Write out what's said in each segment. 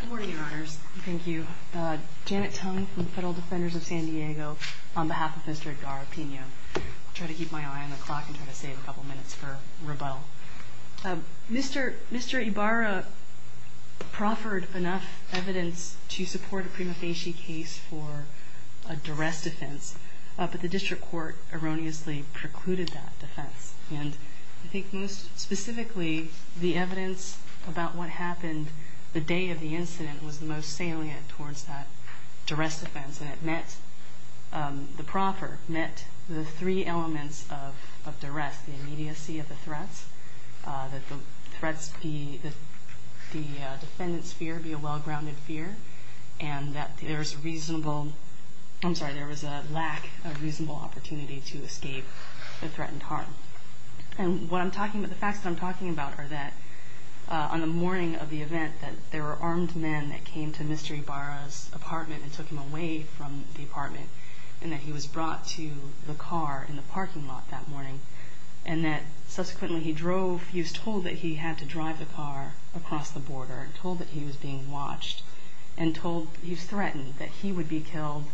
Good morning, Your Honors. Thank you. Janet Tung from Federal Defenders of San Diego on behalf of Mr. Ibarra-Pino. I'll try to keep my eye on the clock and try to save a couple minutes for rebuttal. Mr. Ibarra proffered enough evidence to support a prima facie case for a duress defense, but the district court erroneously precluded that defense. And I think most specifically the evidence about what happened the day of the incident was the most salient towards that duress defense. And the proffer met the three elements of duress, the immediacy of the threats, that the defendant's fear be a well-grounded fear, and that there was a lack of reasonable opportunity to escape the threatened harm. And the facts that I'm talking about are that on the morning of the event that there were armed men that came to Mr. Ibarra's apartment and took him away from the apartment, and that he was brought to the car in the parking lot that morning, and that subsequently he was told that he had to drive the car across the border, and told that he was being watched, and told he was threatened, that he would be killed,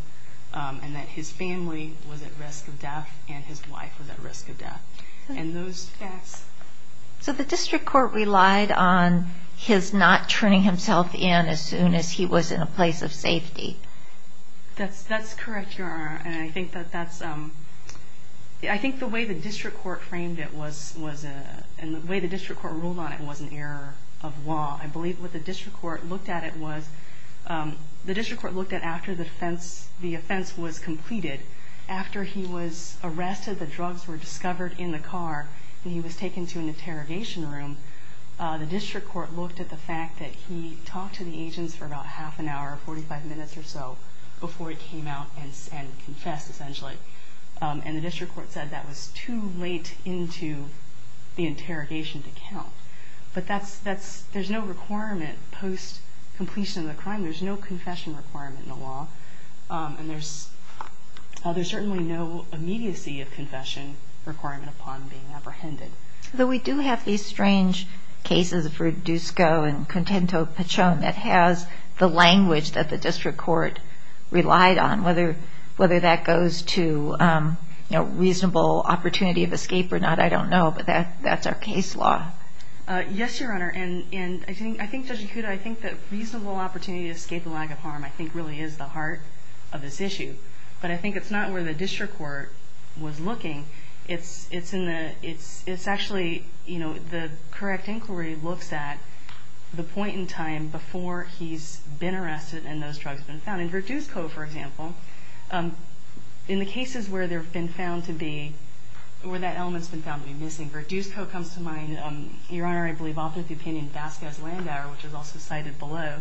and that his family was at risk of death, and his wife was at risk of death. And those facts... So the district court relied on his not turning himself in as soon as he was in a place of safety. That's correct, Your Honor. And I think the way the district court ruled on it was an error of law. I believe what the district court looked at it was... The district court looked at it after the offense was completed. After he was arrested, the drugs were discovered in the car, and he was taken to an interrogation room, the district court looked at the fact that he talked to the agents for about half an hour, 45 minutes or so, before he came out and confessed, essentially. And the district court said that was too late into the interrogation to count. But there's no requirement post-completion of the crime, there's no confession requirement in the law, and there's certainly no immediacy of confession requirement upon being apprehended. Though we do have these strange cases for Dusko and Contento Pachon that has the language that the district court relied on, whether that goes to reasonable opportunity of escape or not, I don't know, but that's our case law. Yes, Your Honor, and I think Judge Ikuda, I think that reasonable opportunity to escape a lag of harm I think really is the heart of this issue. But I think it's not where the district court was looking, it's actually the correct inquiry looks at the point in time before he's been arrested and those drugs have been found. And for Dusko, for example, in the cases where that element's been found to be missing, where Dusko comes to mind, Your Honor, I believe often the opinion of Vasquez Landauer, which is also cited below.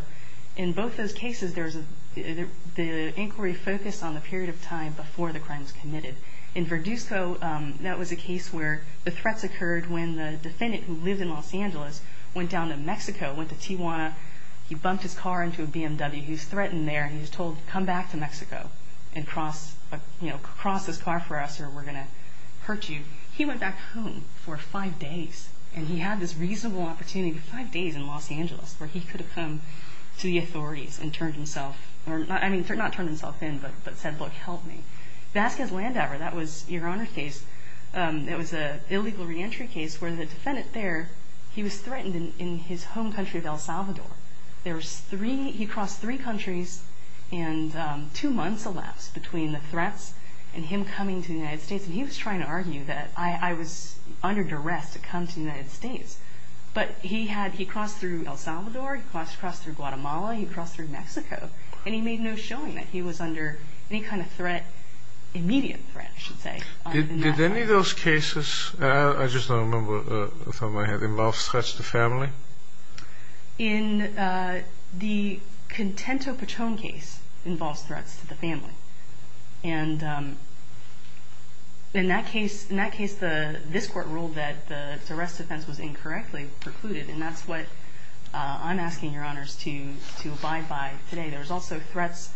In both those cases, the inquiry focused on the period of time before the crime was committed. In Verduzco, that was a case where the threats occurred when the defendant who lived in Los Angeles went down to Mexico, went to Tijuana, he bumped his car into a BMW, he's threatened there, he's told, come back to Mexico and cross this car for us or we're going to hurt you. He went back home for five days and he had this reasonable opportunity, five days in Los Angeles, where he could have come to the authorities and turned himself, I mean, not turned himself in, but said, look, help me. Vasquez Landauer, that was Your Honor's case, that was an illegal reentry case where the defendant there, he was threatened in his home country of El Salvador. He crossed three countries and two months elapsed between the threats and him coming to the United States. And he was trying to argue that I was under duress to come to the United States. But he had, he crossed through El Salvador, he crossed through Guatemala, he crossed through Mexico, and he made no showing that he was under any kind of threat, immediate threat, I should say. Did any of those cases, I just don't remember off the top of my head, involve threats to family? In the Contento Patron case involved threats to the family. And in that case, this court ruled that the arrest defense was incorrectly precluded, and that's what I'm asking Your Honors to abide by today. There was also threats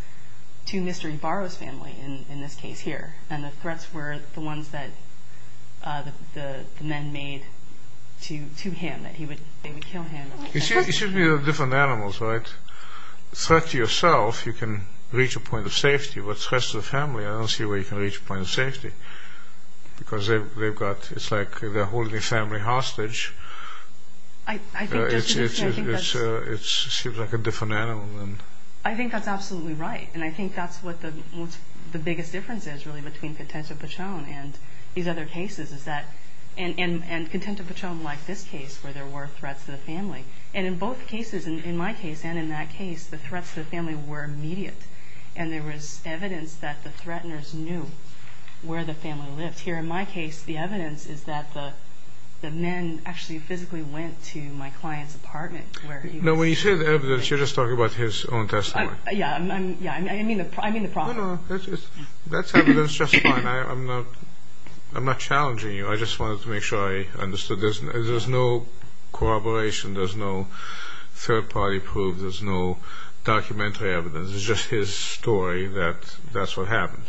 to Mr. Ybarra's family in this case here, and the threats were the ones that the men made to him, that they would kill him. It should be different animals, right? If it's a threat to yourself, you can reach a point of safety, but threats to the family, I don't see where you can reach a point of safety. Because they've got, it's like they're holding the family hostage. It seems like a different animal. I think that's absolutely right, and I think that's what the biggest difference is really between Contento Patron and these other cases is that, and Contento Patron like this case, where there were threats to the family. And in both cases, in my case and in that case, the threats to the family were immediate, and there was evidence that the threateners knew where the family lived. Here in my case, the evidence is that the men actually physically went to my client's apartment. No, when you say evidence, you're just talking about his own testimony. Yeah, I mean the problem. No, no, that's evidence just fine. I'm not challenging you. I just wanted to make sure I understood. There's no corroboration. There's no third-party proof. There's no documentary evidence. It's just his story that that's what happened.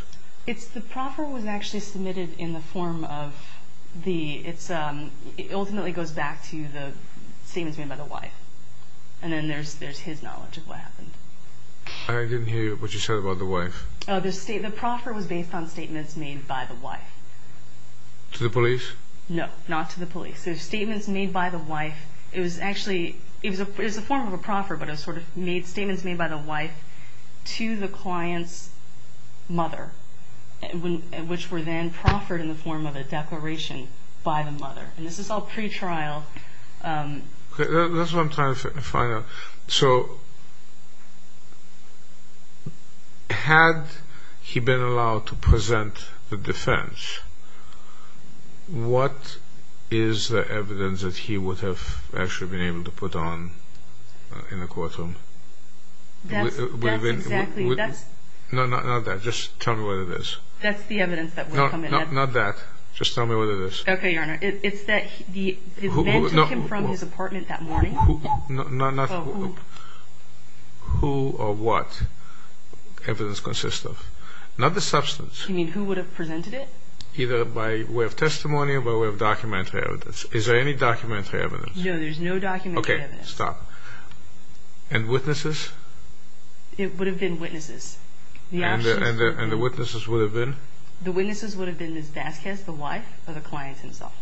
The proffer was actually submitted in the form of the, it ultimately goes back to the statements made by the wife. And then there's his knowledge of what happened. I didn't hear what you said about the wife. The proffer was based on statements made by the wife. To the police? No, not to the police. The statements made by the wife, it was actually, it was a form of a proffer, but it was sort of statements made by the wife to the client's mother, which were then proffered in the form of a declaration by the mother. And this is all pretrial. That's what I'm trying to find out. So had he been allowed to present the defense, what is the evidence that he would have actually been able to put on in the courtroom? That's exactly, that's. No, not that. Just tell me what it is. That's the evidence that would come in. No, not that. Just tell me what it is. Okay, Your Honor. It's that his man took him from his apartment that morning. Who or what evidence consists of? Not the substance. You mean who would have presented it? Either by way of testimony or by way of documentary evidence. Is there any documentary evidence? No, there's no documentary evidence. Okay, stop. And witnesses? It would have been witnesses. And the witnesses would have been? The witnesses would have been Ms. Vasquez, the wife, or the client himself,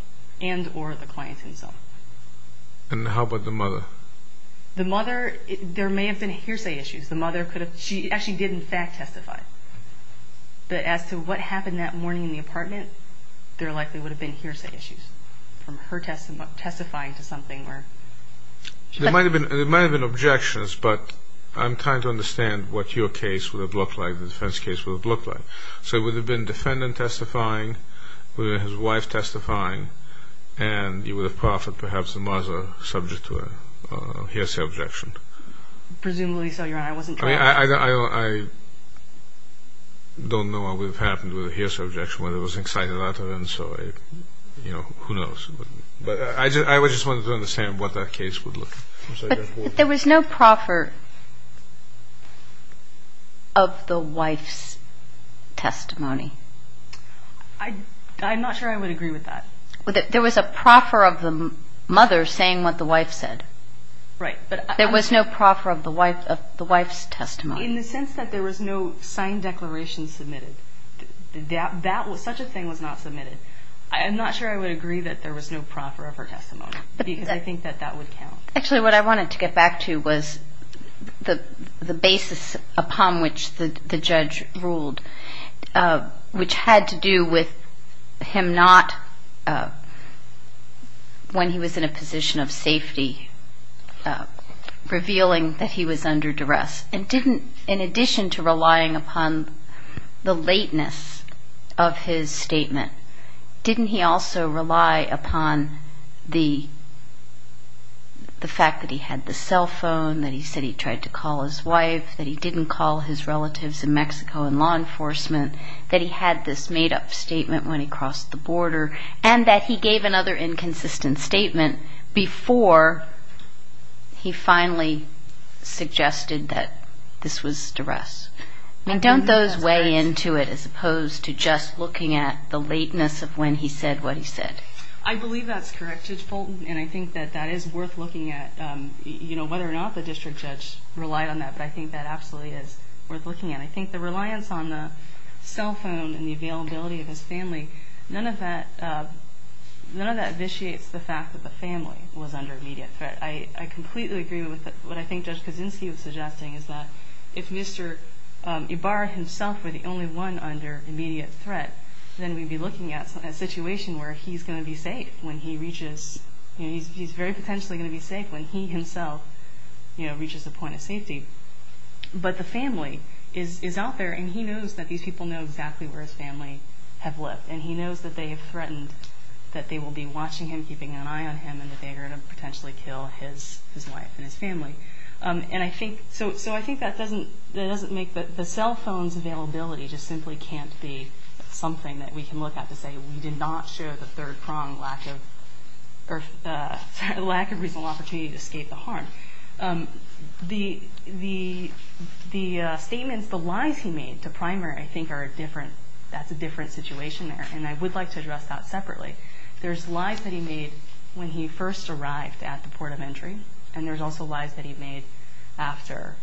and or the client himself. And how about the mother? The mother, there may have been hearsay issues. The mother could have, she actually did, in fact, testify. But as to what happened that morning in the apartment, there likely would have been hearsay issues from her testifying to something where. There might have been objections, but I'm trying to understand what your case would have looked like, the defense case would have looked like. So it would have been defendant testifying, his wife testifying, and you would have proffered perhaps the mother subject to a hearsay objection. Presumably so, Your Honor. I don't know what would have happened with a hearsay objection, whether it was an excited utterance or a, you know, who knows. But I just wanted to understand what that case would look like. But there was no proffer of the wife's testimony. I'm not sure I would agree with that. There was a proffer of the mother saying what the wife said. Right. There was no proffer of the wife's testimony. In the sense that there was no signed declaration submitted. Such a thing was not submitted. I'm not sure I would agree that there was no proffer of her testimony, because I think that that would count. Actually, what I wanted to get back to was the basis upon which the judge ruled, which had to do with him not, when he was in a position of safety, revealing that he was under duress. And didn't, in addition to relying upon the lateness of his statement, didn't he also rely upon the fact that he had the cell phone, that he said he tried to call his wife, that he didn't call his relatives in Mexico in law enforcement, that he had this made-up statement when he crossed the border, and that he gave another inconsistent statement before he finally suggested that this was duress. I mean, don't those weigh into it, as opposed to just looking at the lateness of when he said what he said? I believe that's correct, Judge Fulton, and I think that that is worth looking at, you know, whether or not the district judge relied on that. But I think that absolutely is worth looking at. I think the reliance on the cell phone and the availability of his family, none of that vitiates the fact that the family was under immediate threat. I completely agree with what I think Judge Kaczynski was suggesting, is that if Mr. Ibarra himself were the only one under immediate threat, then we'd be looking at a situation where he's going to be safe when he reaches, you know, he's very potentially going to be safe when he himself, you know, reaches the point of safety. But the family is out there, and he knows that these people know exactly where his family have lived, and he knows that they have threatened that they will be watching him, keeping an eye on him, and that they are going to potentially kill his wife and his family. And I think, so I think that doesn't make the cell phone's availability just simply can't be something that we can look at to say we did not show the third prong lack of reasonable opportunity to escape the harm. The statements, the lies he made to primary, I think are different. That's a different situation there, and I would like to address that separately. There's lies that he made when he first arrived at the port of entry, and there's also lies that he made after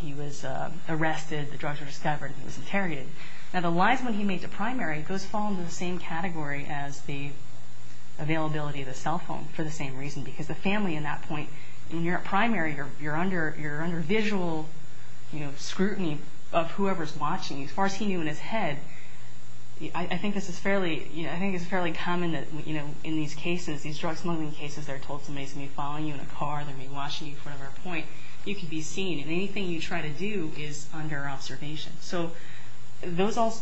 he was arrested, the drugs were discovered, and he was interrogated. Now, the lies when he made to primary, those fall into the same category as the availability of the cell phone, for the same reason, because the family in that point, when you're at primary, you're under visual, you know, scrutiny of whoever's watching you. As far as he knew in his head, I think this is fairly, I think it's fairly common that, you know, in these cases, these drug-smuggling cases, they're told somebody's going to be following you in a car, they're going to be watching you in front of their point. You can be seen, and anything you try to do is under observation. So those all,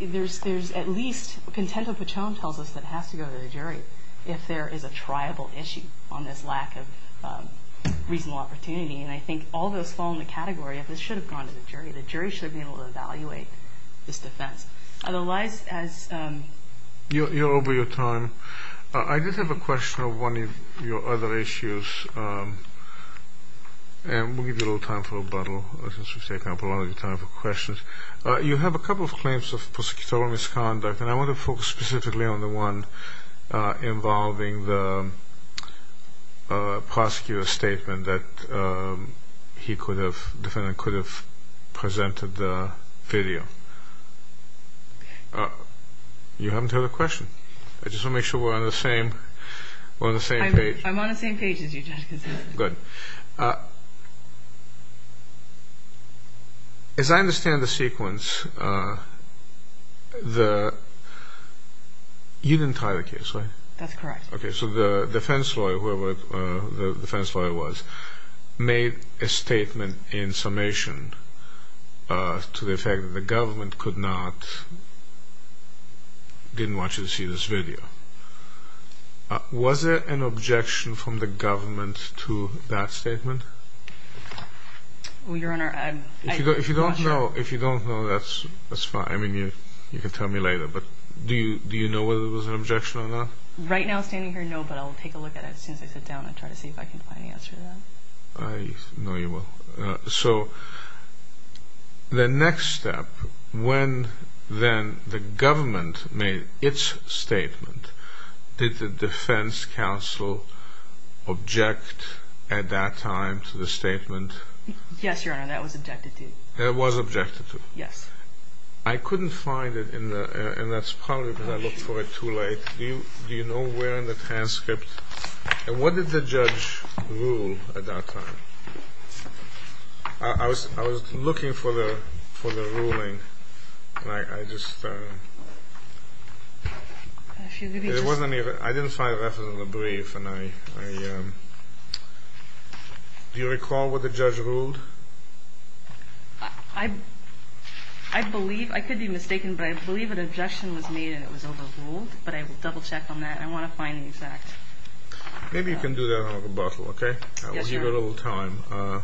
there's at least content of what Tom tells us that has to go to the jury if there is a triable issue on this lack of reasonable opportunity, and I think all those fall in the category of this should have gone to the jury. The jury should have been able to evaluate this defense. Otherwise, as... You're over your time. I did have a question of one of your other issues, and we'll give you a little time for rebuttal, since we've taken up a lot of your time for questions. You have a couple of claims of prosecutorial misconduct, and that the defendant could have presented the video. You haven't heard a question. I just want to make sure we're on the same page. I'm on the same page as you, Justice. Good. As I understand the sequence, the... You didn't tie the case, right? That's correct. Okay, so the defense lawyer, whoever the defense lawyer was, made a statement in summation to the effect that the government could not... didn't want you to see this video. Was it an objection from the government to that statement? Well, Your Honor, I... If you don't know, that's fine. I mean, you can tell me later, but do you know whether it was an objection or not? Right now, standing here, no, but I'll take a look at it as soon as I sit down and try to see if I can find an answer to that. I know you will. So the next step, when then the government made its statement, did the defense counsel object at that time to the statement? Yes, Your Honor, that was objected to. That was objected to? Yes. I couldn't find it in the... And that's probably because I looked for it too late. Do you know where in the transcript? And what did the judge rule at that time? I was looking for the ruling, and I just... It wasn't even... I didn't find it in the brief, and I... Do you recall what the judge ruled? I believe... I could be mistaken, but I believe an objection was made and it was overruled, but I will double-check on that, and I want to find the exact... Maybe you can do that on a rebuttal, okay? Yes, Your Honor. I will give you a little time.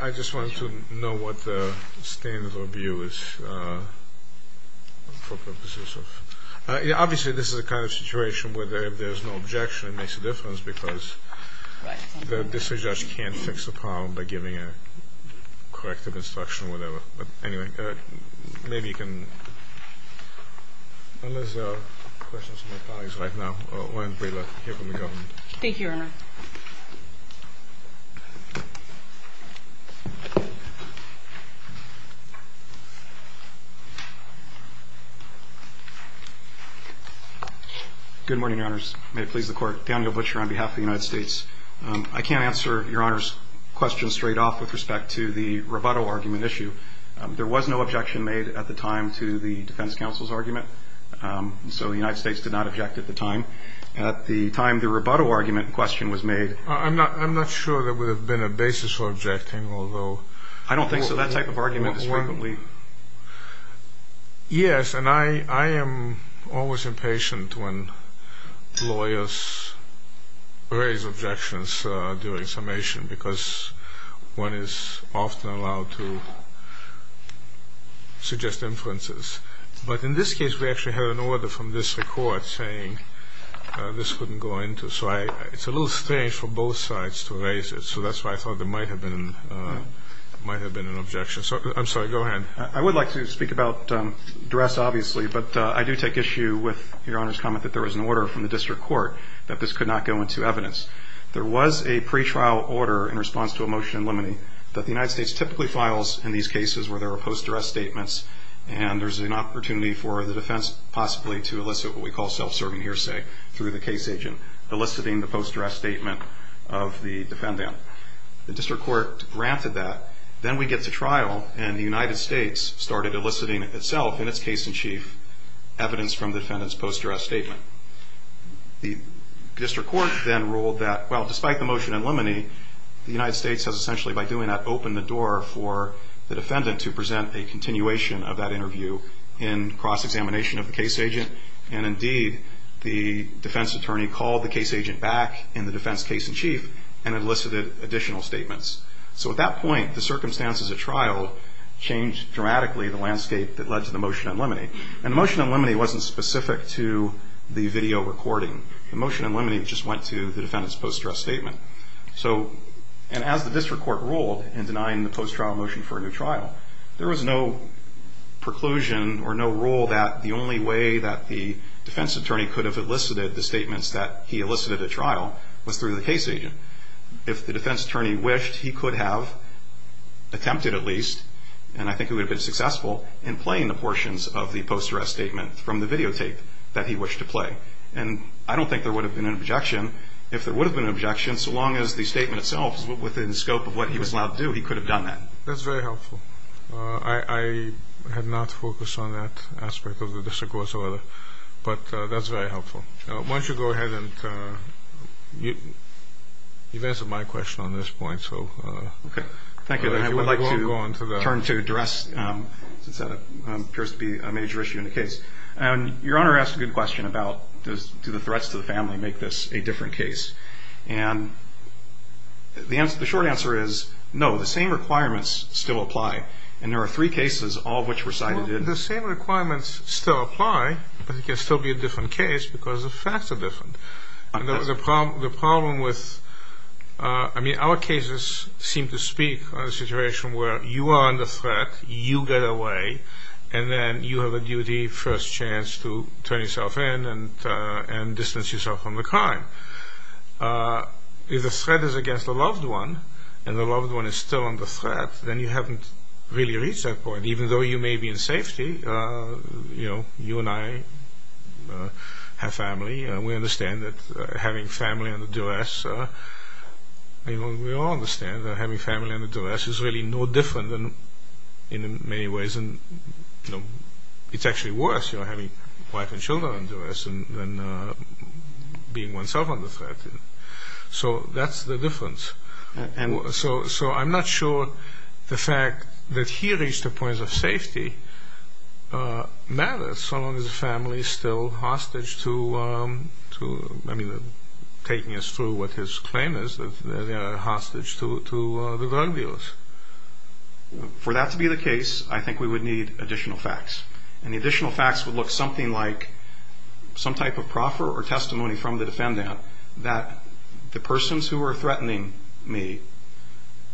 I just wanted to know what the standard of view is for purposes of... Obviously, this is the kind of situation where there's no objection, and it makes a difference because the district judge can't fix a problem by giving a corrective instruction or whatever. But anyway, maybe you can... Unless there are questions from my colleagues right now, why don't we hear from the government? Good morning, Your Honors. May it please the Court. Daniel Butcher on behalf of the United States. I can't answer Your Honor's question straight off with respect to the rebuttal argument issue. There was no objection made at the time to the defense counsel's argument, so the United States did not object at the time. At the time the rebuttal argument question was made... I'm not sure there would have been a basis for objecting, although... I don't think so. That type of argument is frequently... Lawyers raise objections during summation because one is often allowed to suggest inferences. But in this case, we actually had an order from the district court saying this couldn't go into... So it's a little strange for both sides to raise it, so that's why I thought there might have been an objection. I'm sorry, go ahead. I would like to speak about duress, obviously, but I do take issue with Your Honor's comment that there was an order from the district court that this could not go into evidence. There was a pretrial order in response to a motion in limine that the United States typically files in these cases where there are post-duress statements, and there's an opportunity for the defense possibly to elicit what we call self-serving hearsay through the case agent, eliciting the post-duress statement of the defendant. The district court granted that. Then we get to trial, and the United States started eliciting itself in its case in chief evidence from the defendant's post-duress statement. The district court then ruled that, well, despite the motion in limine, the United States has essentially, by doing that, opened the door for the defendant to present a continuation of that interview in cross-examination of the case agent, and indeed the defense attorney called the case agent back in the defense case in chief and elicited additional statements. So at that point, the circumstances at trial changed dramatically the landscape that led to the motion in limine. And the motion in limine wasn't specific to the video recording. The motion in limine just went to the defendant's post-duress statement. And as the district court ruled in denying the post-trial motion for a new trial, there was no preclusion or no rule that the only way that the defense attorney could have elicited the statements that he elicited at trial was through the case agent. If the defense attorney wished, he could have attempted at least, and I think he would have been successful, in playing the portions of the post-duress statement from the videotape that he wished to play. And I don't think there would have been an objection. If there would have been an objection, so long as the statement itself was within the scope of what he was allowed to do, he could have done that. That's very helpful. I had not focused on that aspect of the district court, but that's very helpful. Why don't you go ahead and answer my question on this point. Okay. Thank you. I would like to turn to duress, since that appears to be a major issue in the case. Your Honor asked a good question about do the threats to the family make this a different case. And the short answer is no. The same requirements still apply. And there are three cases, all of which were cited. The same requirements still apply, but it can still be a different case because the facts are different. The problem with, I mean, our cases seem to speak on a situation where you are under threat, you get away, and then you have a duty, first chance to turn yourself in and distance yourself from the crime. If the threat is against a loved one, and the loved one is still under threat, then you haven't really reached that point. And even though you may be in safety, you know, you and I have family, and we understand that having family under duress, we all understand that having family under duress is really no different in many ways. It's actually worse having wife and children under duress than being oneself under threat. So that's the difference. So I'm not sure the fact that he reached a point of safety matters, so long as the family is still hostage to, I mean, taking us through what his claim is, that they are hostage to the drug dealers. For that to be the case, I think we would need additional facts. And the additional facts would look something like some type of proffer or testimony from the defendant that the persons who were threatening me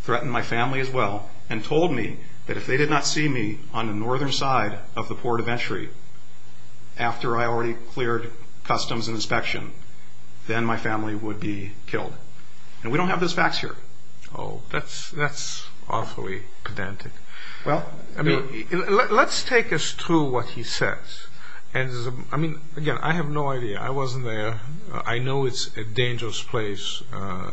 threatened my family as well and told me that if they did not see me on the northern side of the port of entry after I already cleared customs and inspection, then my family would be killed. And we don't have those facts here. Oh, that's awfully pedantic. Well, let's take us through what he says. I mean, again, I have no idea. I wasn't there. I know it's a dangerous place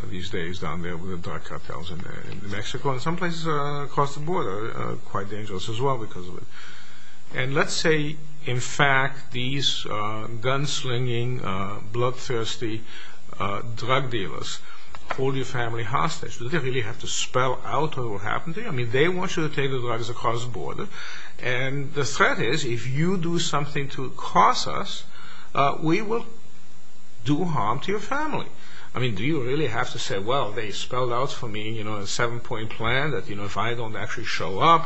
these days down there with the drug cartels in Mexico and some places across the border are quite dangerous as well because of it. And let's say, in fact, these gunslinging, bloodthirsty drug dealers hold your family hostage. Do they really have to spell out what happened to you? And the threat is if you do something to cross us, we will do harm to your family. I mean, do you really have to say, well, they spelled out for me a seven-point plan that if I don't actually show up,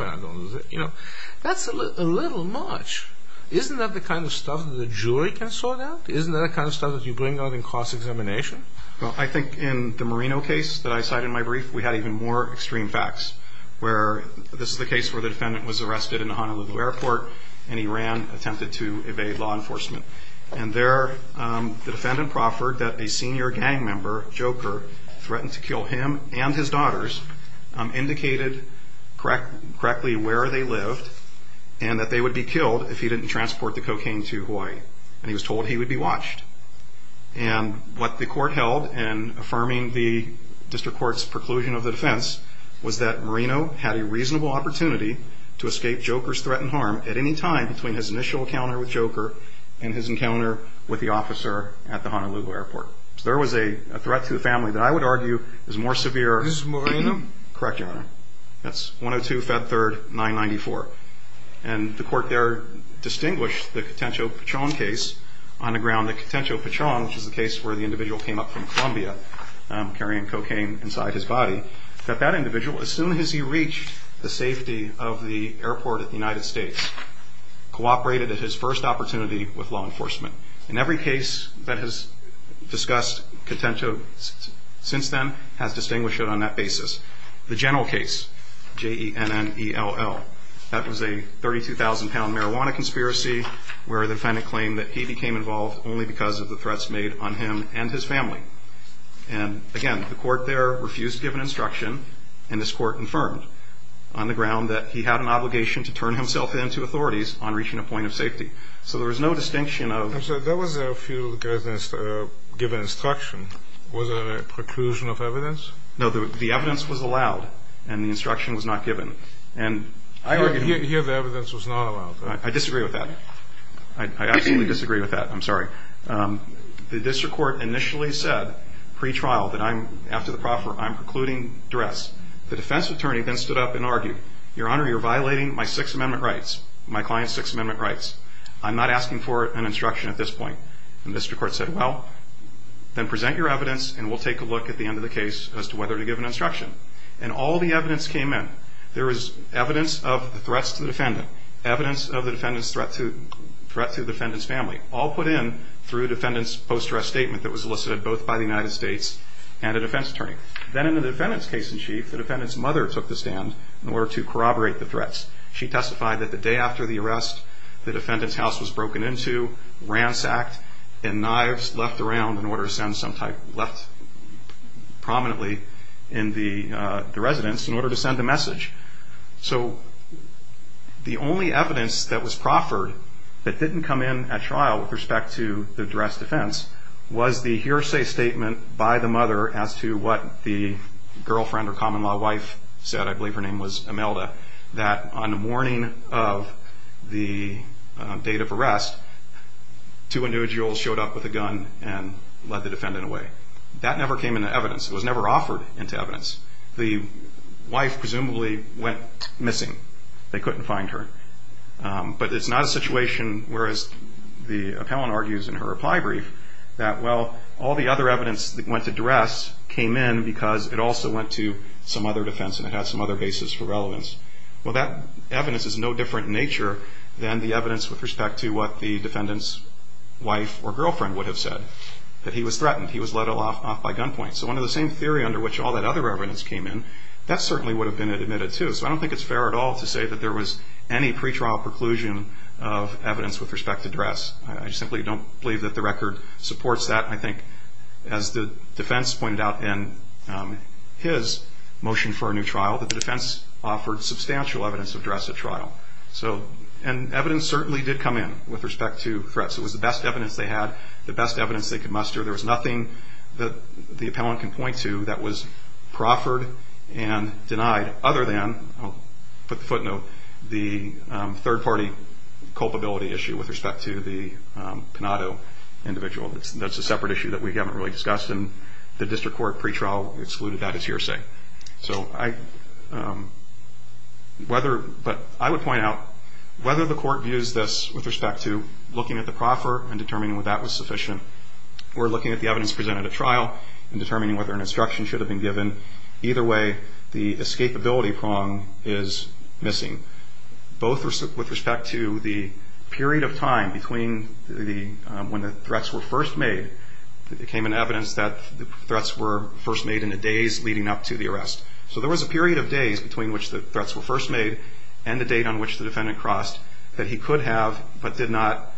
that's a little much. Isn't that the kind of stuff that a jury can sort out? Isn't that the kind of stuff that you bring out in cross-examination? Well, I think in the Marino case that I cited in my brief, we had even more extreme facts where this is the case where the defendant was arrested in Honolulu Airport and he ran, attempted to evade law enforcement. And there the defendant proffered that a senior gang member, Joker, threatened to kill him and his daughters, indicated correctly where they lived and that they would be killed if he didn't transport the cocaine to Hawaii. And he was told he would be watched. And what the court held in affirming the district court's preclusion of the defense was that Marino had a reasonable opportunity to escape Joker's threat and harm at any time between his initial encounter with Joker and his encounter with the officer at the Honolulu Airport. So there was a threat to the family that I would argue is more severe. This is Marino? Correct, Your Honor. That's 102-Fed3-994. And the court there distinguished the Cotencio-Pachon case on the ground that Cotencio-Pachon, which is the case where the individual came up from Colombia carrying cocaine inside his body, that that individual, as soon as he reached the safety of the airport at the United States, cooperated at his first opportunity with law enforcement. And every case that has discussed Cotencio since then has distinguished it on that basis. The general case, J-E-N-N-E-L-L, that was a 32,000-pound marijuana conspiracy where the defendant claimed that he became involved only because of the threats made on him and his family. And, again, the court there refused to give an instruction, and this court confirmed on the ground that he had an obligation to turn himself in to authorities on reaching a point of safety. So there was no distinction of – I'm sorry, there was a few given instruction. Was there a preclusion of evidence? No, the evidence was allowed, and the instruction was not given. And I argue – Here the evidence was not allowed. I disagree with that. I absolutely disagree with that. I'm sorry. The district court initially said pre-trial that I'm – after the proffer, I'm precluding duress. The defense attorney then stood up and argued, Your Honor, you're violating my Sixth Amendment rights, my client's Sixth Amendment rights. I'm not asking for an instruction at this point. And the district court said, well, then present your evidence, and we'll take a look at the end of the case as to whether to give an instruction. And all the evidence came in. There was evidence of the threats to the defendant, evidence of the defendant's threat to the defendant's family, all put in through a defendant's post-arrest statement that was elicited both by the United States and a defense attorney. Then in the defendant's case-in-chief, the defendant's mother took the stand in order to corroborate the threats. She testified that the day after the arrest, the defendant's house was broken into, ransacked, and knives left around in order to send some type – left prominently in the residence in order to send a message. So the only evidence that was proffered that didn't come in at trial with respect to the duress defense was the hearsay statement by the mother as to what the girlfriend or common-law wife said – I believe her name was Imelda – that on the morning of the date of arrest, two individuals showed up with a gun and led the defendant away. That never came into evidence. It was never offered into evidence. The wife presumably went missing. They couldn't find her. But it's not a situation, whereas the appellant argues in her reply brief, that, well, all the other evidence that went to duress came in because it also went to some other defense and it had some other basis for relevance. Well, that evidence is no different in nature than the evidence with respect to what the defendant's wife or girlfriend would have said, that he was threatened, he was let off by gunpoint. So under the same theory under which all that other evidence came in, that certainly would have been admitted, too. So I don't think it's fair at all to say that there was any pretrial preclusion of evidence with respect to duress. I simply don't believe that the record supports that. I think, as the defense pointed out in his motion for a new trial, that the defense offered substantial evidence of duress at trial. And evidence certainly did come in with respect to threats. It was the best evidence they had, the best evidence they could muster. There was nothing that the appellant can point to that was proffered and denied other than, I'll put the footnote, the third-party culpability issue with respect to the Panado individual. That's a separate issue that we haven't really discussed, and the district court pretrial excluded that as hearsay. But I would point out, whether the court views this with respect to looking at the proffer and determining whether that was sufficient, or looking at the evidence presented at trial and determining whether an instruction should have been given, either way, the escapability prong is missing, both with respect to the period of time between when the threats were first made. It became an evidence that the threats were first made in the days leading up to the arrest. So there was a period of days between which the threats were first made and the date on which the defendant crossed that he could have but did not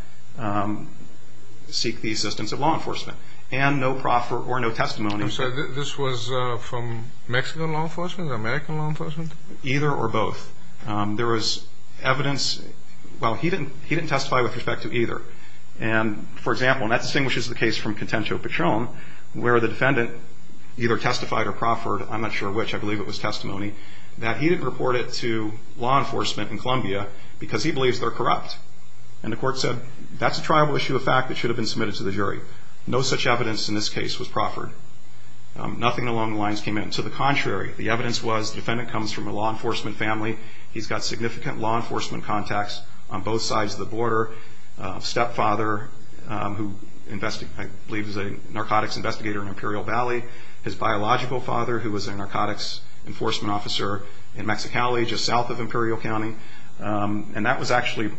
seek the assistance of law enforcement, and no proffer or no testimony. I'm sorry. This was from Mexican law enforcement or American law enforcement? Either or both. There was evidence. Well, he didn't testify with respect to either. And, for example, and that distinguishes the case from Contento Patron, where the defendant either testified or proffered, I'm not sure which, I believe it was testimony, that he didn't report it to law enforcement in Columbia because he believes they're corrupt. And the court said, that's a trial issue of fact that should have been submitted to the jury. No such evidence in this case was proffered. Nothing along the lines came in. To the contrary, the evidence was the defendant comes from a law enforcement family. He's got significant law enforcement contacts on both sides of the border, a stepfather who I believe is a narcotics investigator in Imperial Valley, his biological father who was a narcotics enforcement officer in Mexicali, just south of Imperial County. And that was actually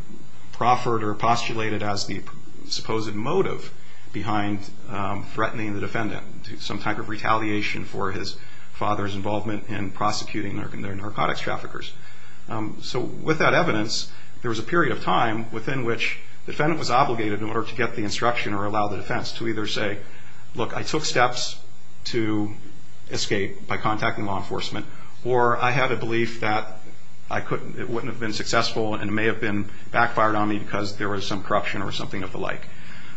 proffered or postulated as the supposed motive behind threatening the defendant, some type of retaliation for his father's involvement in prosecuting their narcotics traffickers. So with that evidence, there was a period of time within which the defendant was obligated in order to get the instruction or allow the defense to either say, look, I took steps to escape by contacting law enforcement, or I had a belief that it wouldn't have been successful and it may have been backfired on me because there was some corruption or something of the like.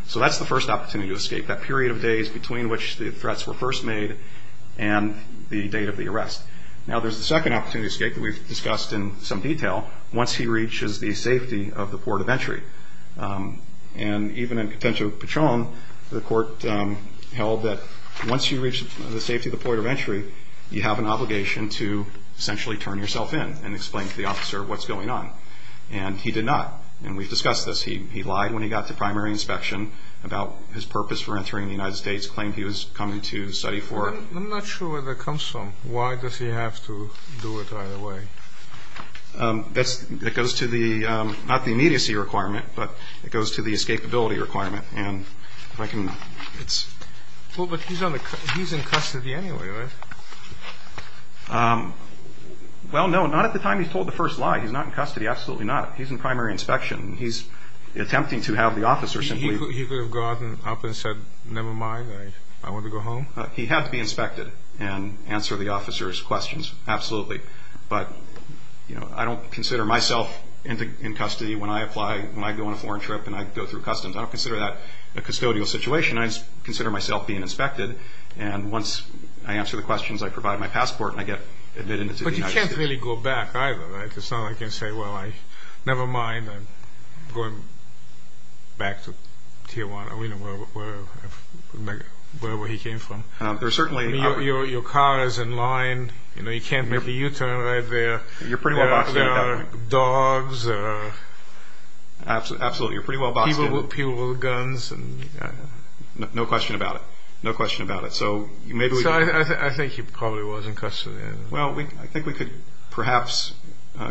So that's the first opportunity to escape, that period of days between which the threats were first made and the date of the arrest. Now there's a second opportunity to escape that we've discussed in some detail, once he reaches the safety of the port of entry. And even in Contento Patron, the court held that once you reach the safety of the port of entry, you have an obligation to essentially turn yourself in and explain to the officer what's going on. And he did not. And we've discussed this. He lied when he got to primary inspection about his purpose for entering the United States, claimed he was coming to study for it. I'm not sure where that comes from. Why does he have to do it either way? That goes to the, not the immediacy requirement, but it goes to the escapability requirement. Well, but he's in custody anyway, right? Well, no, not at the time he's told the first lie. He's not in custody, absolutely not. He's in primary inspection. He's attempting to have the officer simply... He could have gotten up and said, never mind, I want to go home? He had to be inspected and answer the officer's questions, absolutely. But, you know, I don't consider myself in custody when I apply, when I go on a foreign trip and I go through customs. I don't consider that a custodial situation. I just consider myself being inspected. And once I answer the questions, I provide my passport, and I get admitted into the United States. But you can't really go back either, right? It's not like you can say, well, never mind, I'm going back to Tijuana, you know, wherever he came from. There's certainly... Your car is in line. You know, you can't make a U-turn right there. There are dogs. Absolutely, you're pretty well boxed in. People with guns. No question about it. No question about it. So I think he probably was in custody. Well, I think we could perhaps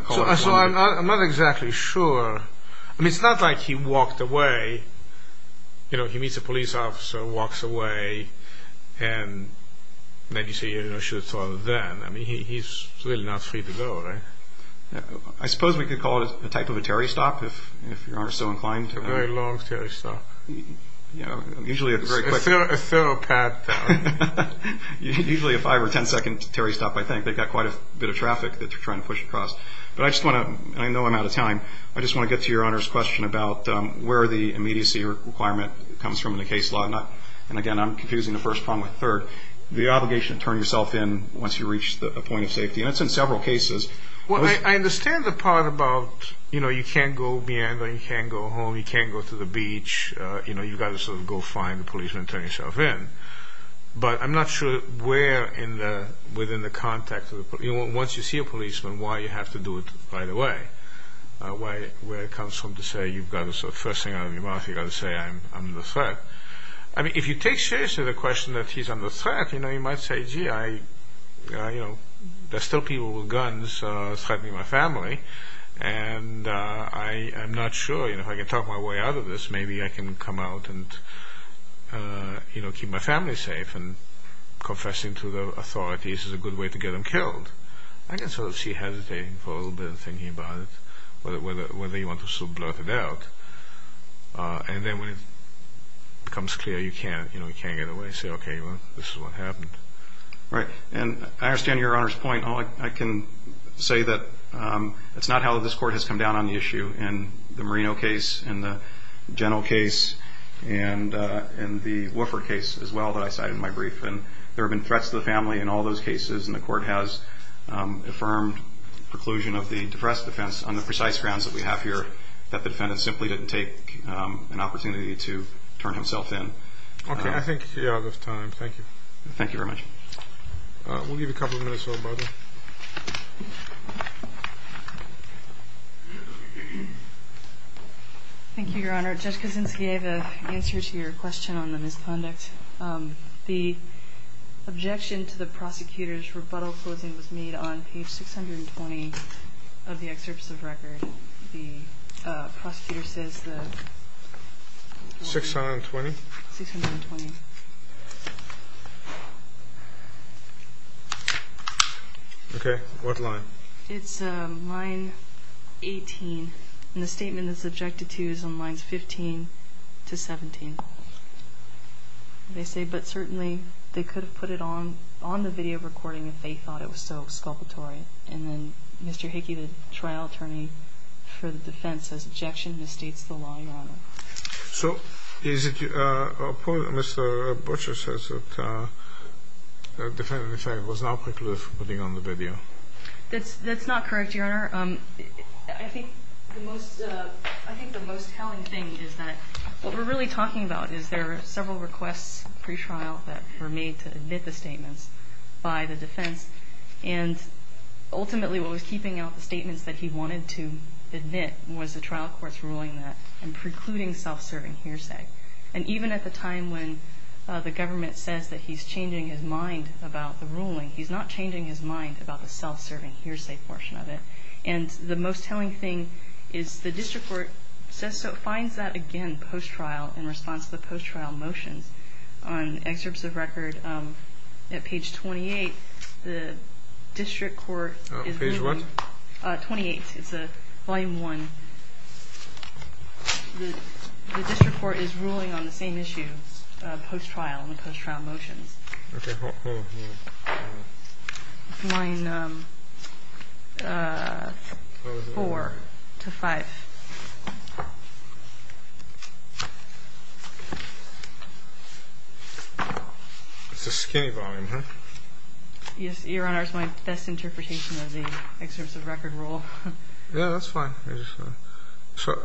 call it... So I'm not exactly sure. I mean, it's not like he walked away. You know, he meets a police officer, walks away, and then you say, you know, I should have thought of that. I mean, he's really not free to go, right? I suppose we could call it a type of a Terry stop, if Your Honor is so inclined. A very long Terry stop. Yeah, usually it's very quick. A thorough path. Usually a 5- or 10-second Terry stop, I think. They've got quite a bit of traffic that they're trying to push across. But I just want to, and I know I'm out of time, I just want to get to Your Honor's question about where the immediacy requirement comes from in the case law. And, again, I'm confusing the first problem with the third. The obligation to turn yourself in once you reach a point of safety. And it's in several cases. Well, I understand the part about, you know, you can't go meander, you can't go home, you can't go to the beach. You know, you've got to sort of go find a policeman and turn yourself in. But I'm not sure where in the, within the context of the, once you see a policeman, why you have to do it right away. Where it comes from to say you've got to sort of first thing out of your mouth, you've got to say I'm under threat. I mean, if you take seriously the question that he's under threat, you know, you might say, gee, I, you know, there's still people with guns threatening my family. And I'm not sure, you know, if I can talk my way out of this, maybe I can come out and, you know, keep my family safe. And confessing to the authorities is a good way to get them killed. I can sort of see hesitating for a little bit and thinking about it, whether you want to sort of blurt it out. And then when it becomes clear you can't, you know, you can't get away, say, okay, well, this is what happened. Right. And I understand Your Honor's point. All I can say that it's not how this Court has come down on the issue in the Marino case, in the Geno case, and in the Woofer case as well that I cited in my brief. And there have been threats to the family in all those cases, and the Court has affirmed the preclusion of the depressed defense on the precise grounds that we have here that the defendant simply didn't take an opportunity to turn himself in. Okay. I think we are out of time. Thank you. Thank you very much. We'll give a couple of minutes for rebuttal. Thank you, Your Honor. Judge Kozinski gave an answer to your question on the misconduct. The objection to the prosecutor's rebuttal closing was made on page 620 of the excerpts of record. The prosecutor says that... 620? 620. Okay. What line? It's line 18. And the statement that it's objected to is on lines 15 to 17. They say, but certainly they could have put it on the video recording if they thought it was so exculpatory. And then Mr. Hickey, the trial attorney for the defense, says, objection misstates the law, Your Honor. So is it your point that Mr. Butcher says that the defendant in fact was not precluded from putting it on the video? That's not correct, Your Honor. I think the most telling thing is that what we're really talking about is there are several requests pre-trial that were made to admit the statements by the defense. And ultimately what was keeping out the statements that he wanted to admit was the trial court's ruling that I'm precluding self-serving hearsay. And even at the time when the government says that he's changing his mind about the ruling, he's not changing his mind about the self-serving hearsay portion of it. And the most telling thing is the district court says so, finds that again post-trial in response to the post-trial motions. On excerpts of record at page 28, the district court is ruling. Page what? 28. It's volume 1. The district court is ruling on the same issue, post-trial and the post-trial motions. Okay. Hold on. Line 4 to 5. It's a skinny volume, huh? Yes, Your Honor. It's my best interpretation of the excerpts of record rule. Yeah, that's fine.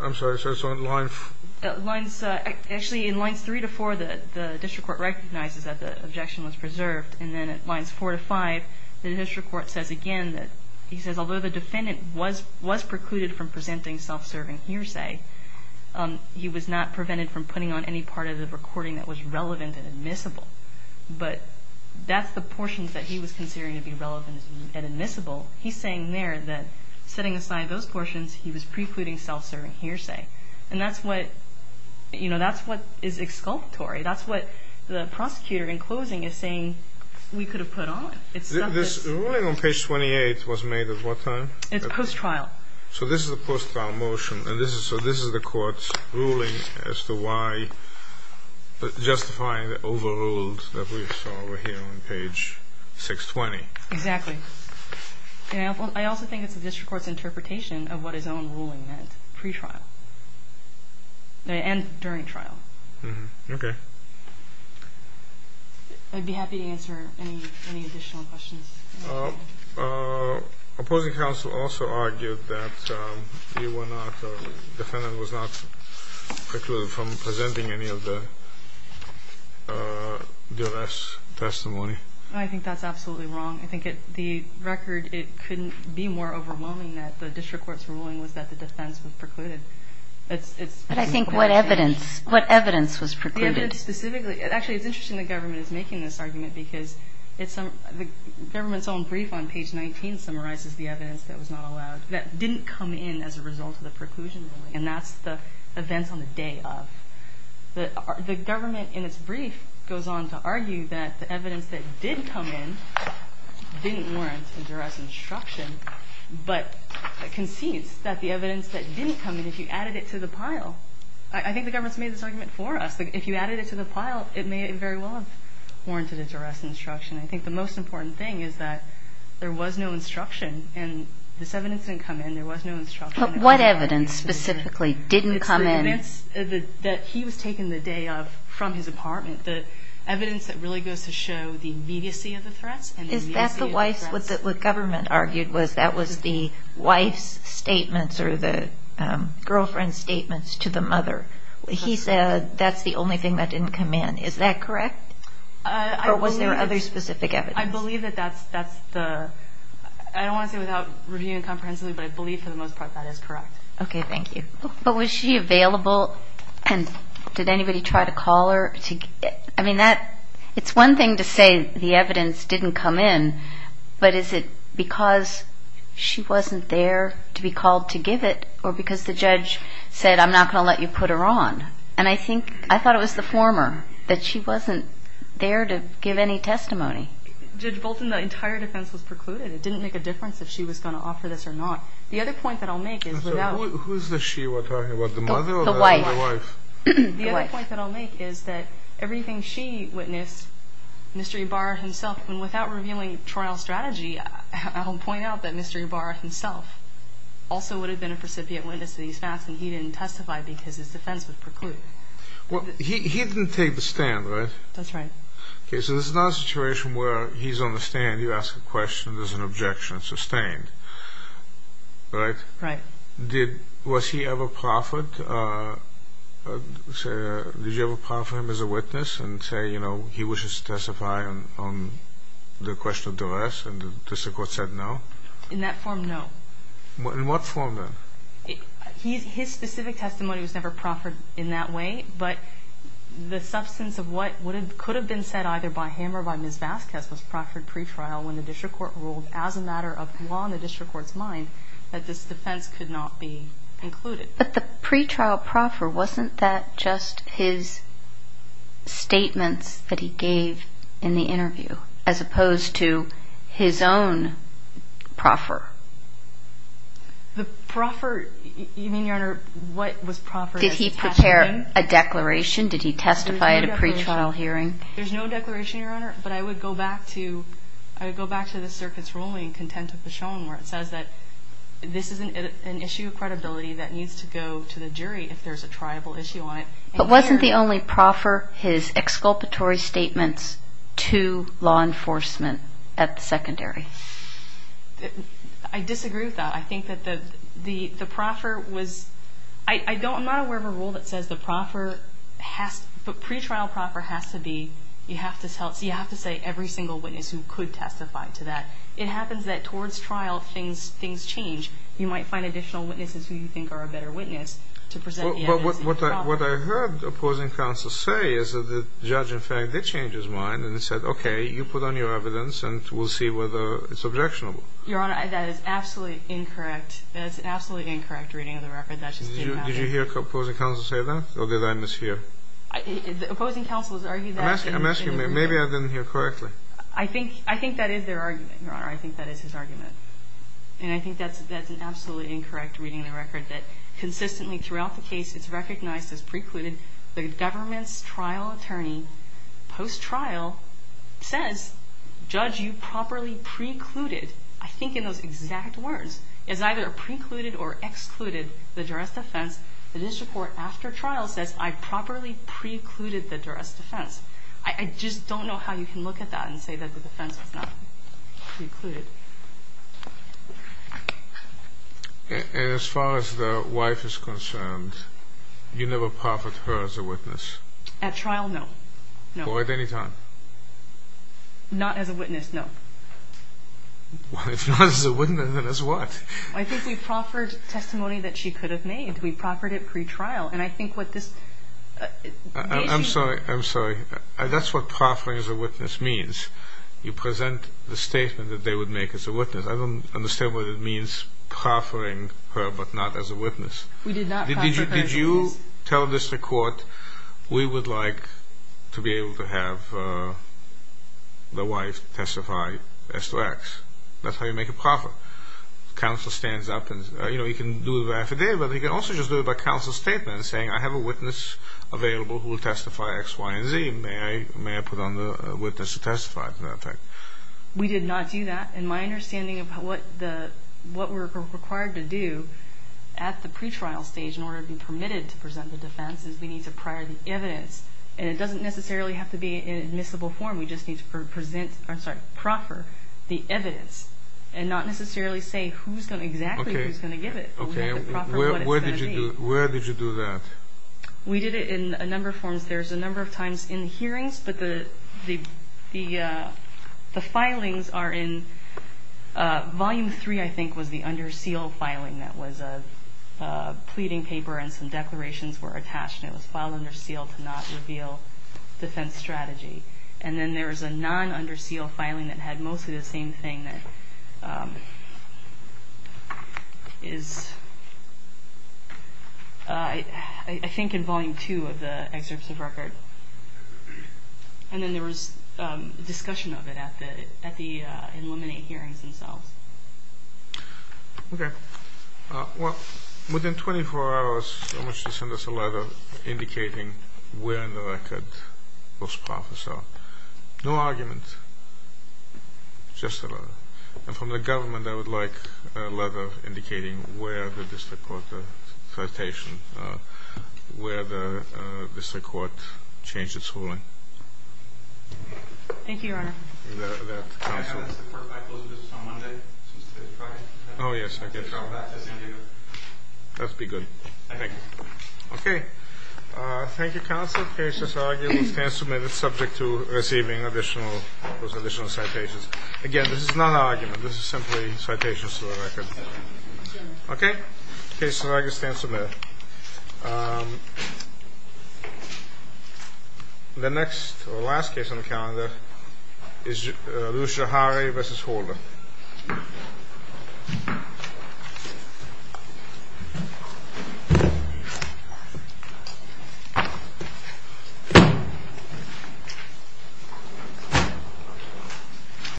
I'm sorry. So it's on line 4? Actually, in lines 3 to 4, the district court recognizes that the objection was preserved and then at lines 4 to 5, the district court says again that he says, although the defendant was precluded from presenting self-serving hearsay, he was not prevented from putting on any part of the recording that was relevant and admissible. But that's the portions that he was considering to be relevant and admissible. He's saying there that setting aside those portions, he was precluding self-serving hearsay. And that's what, you know, that's what is exculpatory. That's what the prosecutor in closing is saying we could have put on. This ruling on page 28 was made at what time? It's post-trial. So this is a post-trial motion. So this is the court's ruling as to why justifying the overruled that we saw over here on page 620. Exactly. I also think it's the district court's interpretation of what his own ruling meant pre-trial and during trial. Okay. I'd be happy to answer any additional questions. Opposing counsel also argued that the defendant was not precluded from presenting any of the U.S. testimony. I think that's absolutely wrong. I think the record, it couldn't be more overwhelming that the district court's ruling was that the defense was precluded. But I think what evidence? What evidence was precluded? The evidence specifically. Actually, it's interesting the government is making this argument because the government's own brief on page 19 summarizes the evidence that was not allowed, that didn't come in as a result of the preclusion ruling. And that's the events on the day of. The government in its brief goes on to argue that the evidence that did come in didn't warrant a juror's instruction, but concedes that the evidence that didn't come in, if you added it to the pile. I think the government's made this argument for us. If you added it to the pile, it may very well have warranted a juror's instruction. I think the most important thing is that there was no instruction, and this evidence didn't come in. There was no instruction. But what evidence specifically didn't come in? It's the evidence that he was taken the day of from his apartment, the evidence that really goes to show the immediacy of the threats and the immediacy of the threats. What the government argued was that was the wife's statements or the girlfriend's statements to the mother. He said that's the only thing that didn't come in. Is that correct? Or was there other specific evidence? I believe that that's the – I don't want to say without reviewing it comprehensively, but I believe for the most part that is correct. Okay, thank you. But was she available, and did anybody try to call her? I mean, that – it's one thing to say the evidence didn't come in, but is it because she wasn't there to be called to give it or because the judge said I'm not going to let you put her on? And I think – I thought it was the former, that she wasn't there to give any testimony. Judge Bolton, the entire defense was precluded. It didn't make a difference if she was going to offer this or not. The other point that I'll make is without – We're talking about the mother or the wife? The wife. The other point that I'll make is that everything she witnessed, Mr. Ybarra himself, and without revealing trial strategy, I'll point out that Mr. Ybarra himself also would have been a recipient witness to these facts, and he didn't testify because his defense was precluded. Well, he didn't take the stand, right? That's right. Okay, so this is not a situation where he's on the stand, you ask a question, there's an objection sustained, right? Right. Did – was he ever proffered? Did you ever proffer him as a witness and say, you know, he wishes to testify on the question of duress, and the district court said no? In that form, no. In what form, then? His specific testimony was never proffered in that way, but the substance of what could have been said either by him or by Ms. Vasquez was proffered pre-trial when the district court ruled as a matter of law in the district court's mind that this defense could not be included. But the pre-trial proffer, wasn't that just his statements that he gave in the interview, as opposed to his own proffer? The proffer – you mean, Your Honor, what was proffered as a testimony? Did he prepare a declaration? Did he testify at a pre-trial hearing? There's no declaration, Your Honor, but I would go back to – where it says that this is an issue of credibility that needs to go to the jury if there's a triable issue on it. But wasn't the only proffer his exculpatory statements to law enforcement at the secondary? I disagree with that. I think that the proffer was – I'm not aware of a rule that says the proffer has – the pre-trial proffer has to be – you have to say every single witness who could testify to that. It happens that towards trial things change. You might find additional witnesses who you think are a better witness to present the evidence to the proffer. But what I heard opposing counsel say is that the judge, in fact, did change his mind and said, okay, you put on your evidence and we'll see whether it's objectionable. Your Honor, that is absolutely incorrect. That is absolutely incorrect reading of the record. That just didn't matter. Did you hear opposing counsel say that, or did I mishear? Opposing counsel has argued that – I'm asking, maybe I didn't hear correctly. I think that is their argument, Your Honor. I think that is his argument. And I think that's an absolutely incorrect reading of the record, that consistently throughout the case it's recognized as precluded. The government's trial attorney post-trial says, judge, you properly precluded. I think in those exact words. It's either precluded or excluded, the duress defense. The district court after trial says, I properly precluded the duress defense. I just don't know how you can look at that and say that the defense was not precluded. And as far as the wife is concerned, you never proffered her as a witness? At trial, no. Or at any time? Not as a witness, no. If not as a witness, then as what? I think we proffered testimony that she could have made. We proffered it pretrial. And I think what this – I'm sorry. I'm sorry. That's what proffering as a witness means. You present the statement that they would make as a witness. I don't understand what it means, proffering her but not as a witness. We did not proffer her as a witness. Did you tell the district court, we would like to be able to have the wife testify as to X? That's how you make a proffer. Counsel stands up and, you know, you can do it by affidavit, but you can also just do it by counsel statement saying, I have a witness available who will testify X, Y, and Z. May I put on the witness to testify to that effect? We did not do that. And my understanding of what we're required to do at the pretrial stage in order to be permitted to present the defense is we need to prior the evidence. And it doesn't necessarily have to be in admissible form. We just need to proffer the evidence and not necessarily say exactly who's going to give it. Okay, where did you do that? We did it in a number of forms. There's a number of times in hearings, but the filings are in Volume 3, I think, was the under seal filing that was a pleading paper and some declarations were attached and it was filed under seal to not reveal defense strategy. And then there was a non-under seal filing that had mostly the same thing that is, I think, in Volume 2 of the excerpts of record. And then there was discussion of it at the Illuminate hearings themselves. Okay. Well, within 24 hours, I want you to send us a letter indicating where in the record those profits are. No argument. Just a letter. And from the government, I would like a letter indicating where the district court citation, where the district court changed its ruling. Thank you, Your Honor. May I ask the court to close the business on Monday, since today is Friday? Oh, yes, I can. That would be good. Thank you. Okay. Thank you, counsel. The case is argued and submitted subject to receiving additional citations. Again, this is not an argument. This is simply citations to the record. Okay? The case is argued and submitted. The next or last case on the calendar is Lucia Harre v. Holder.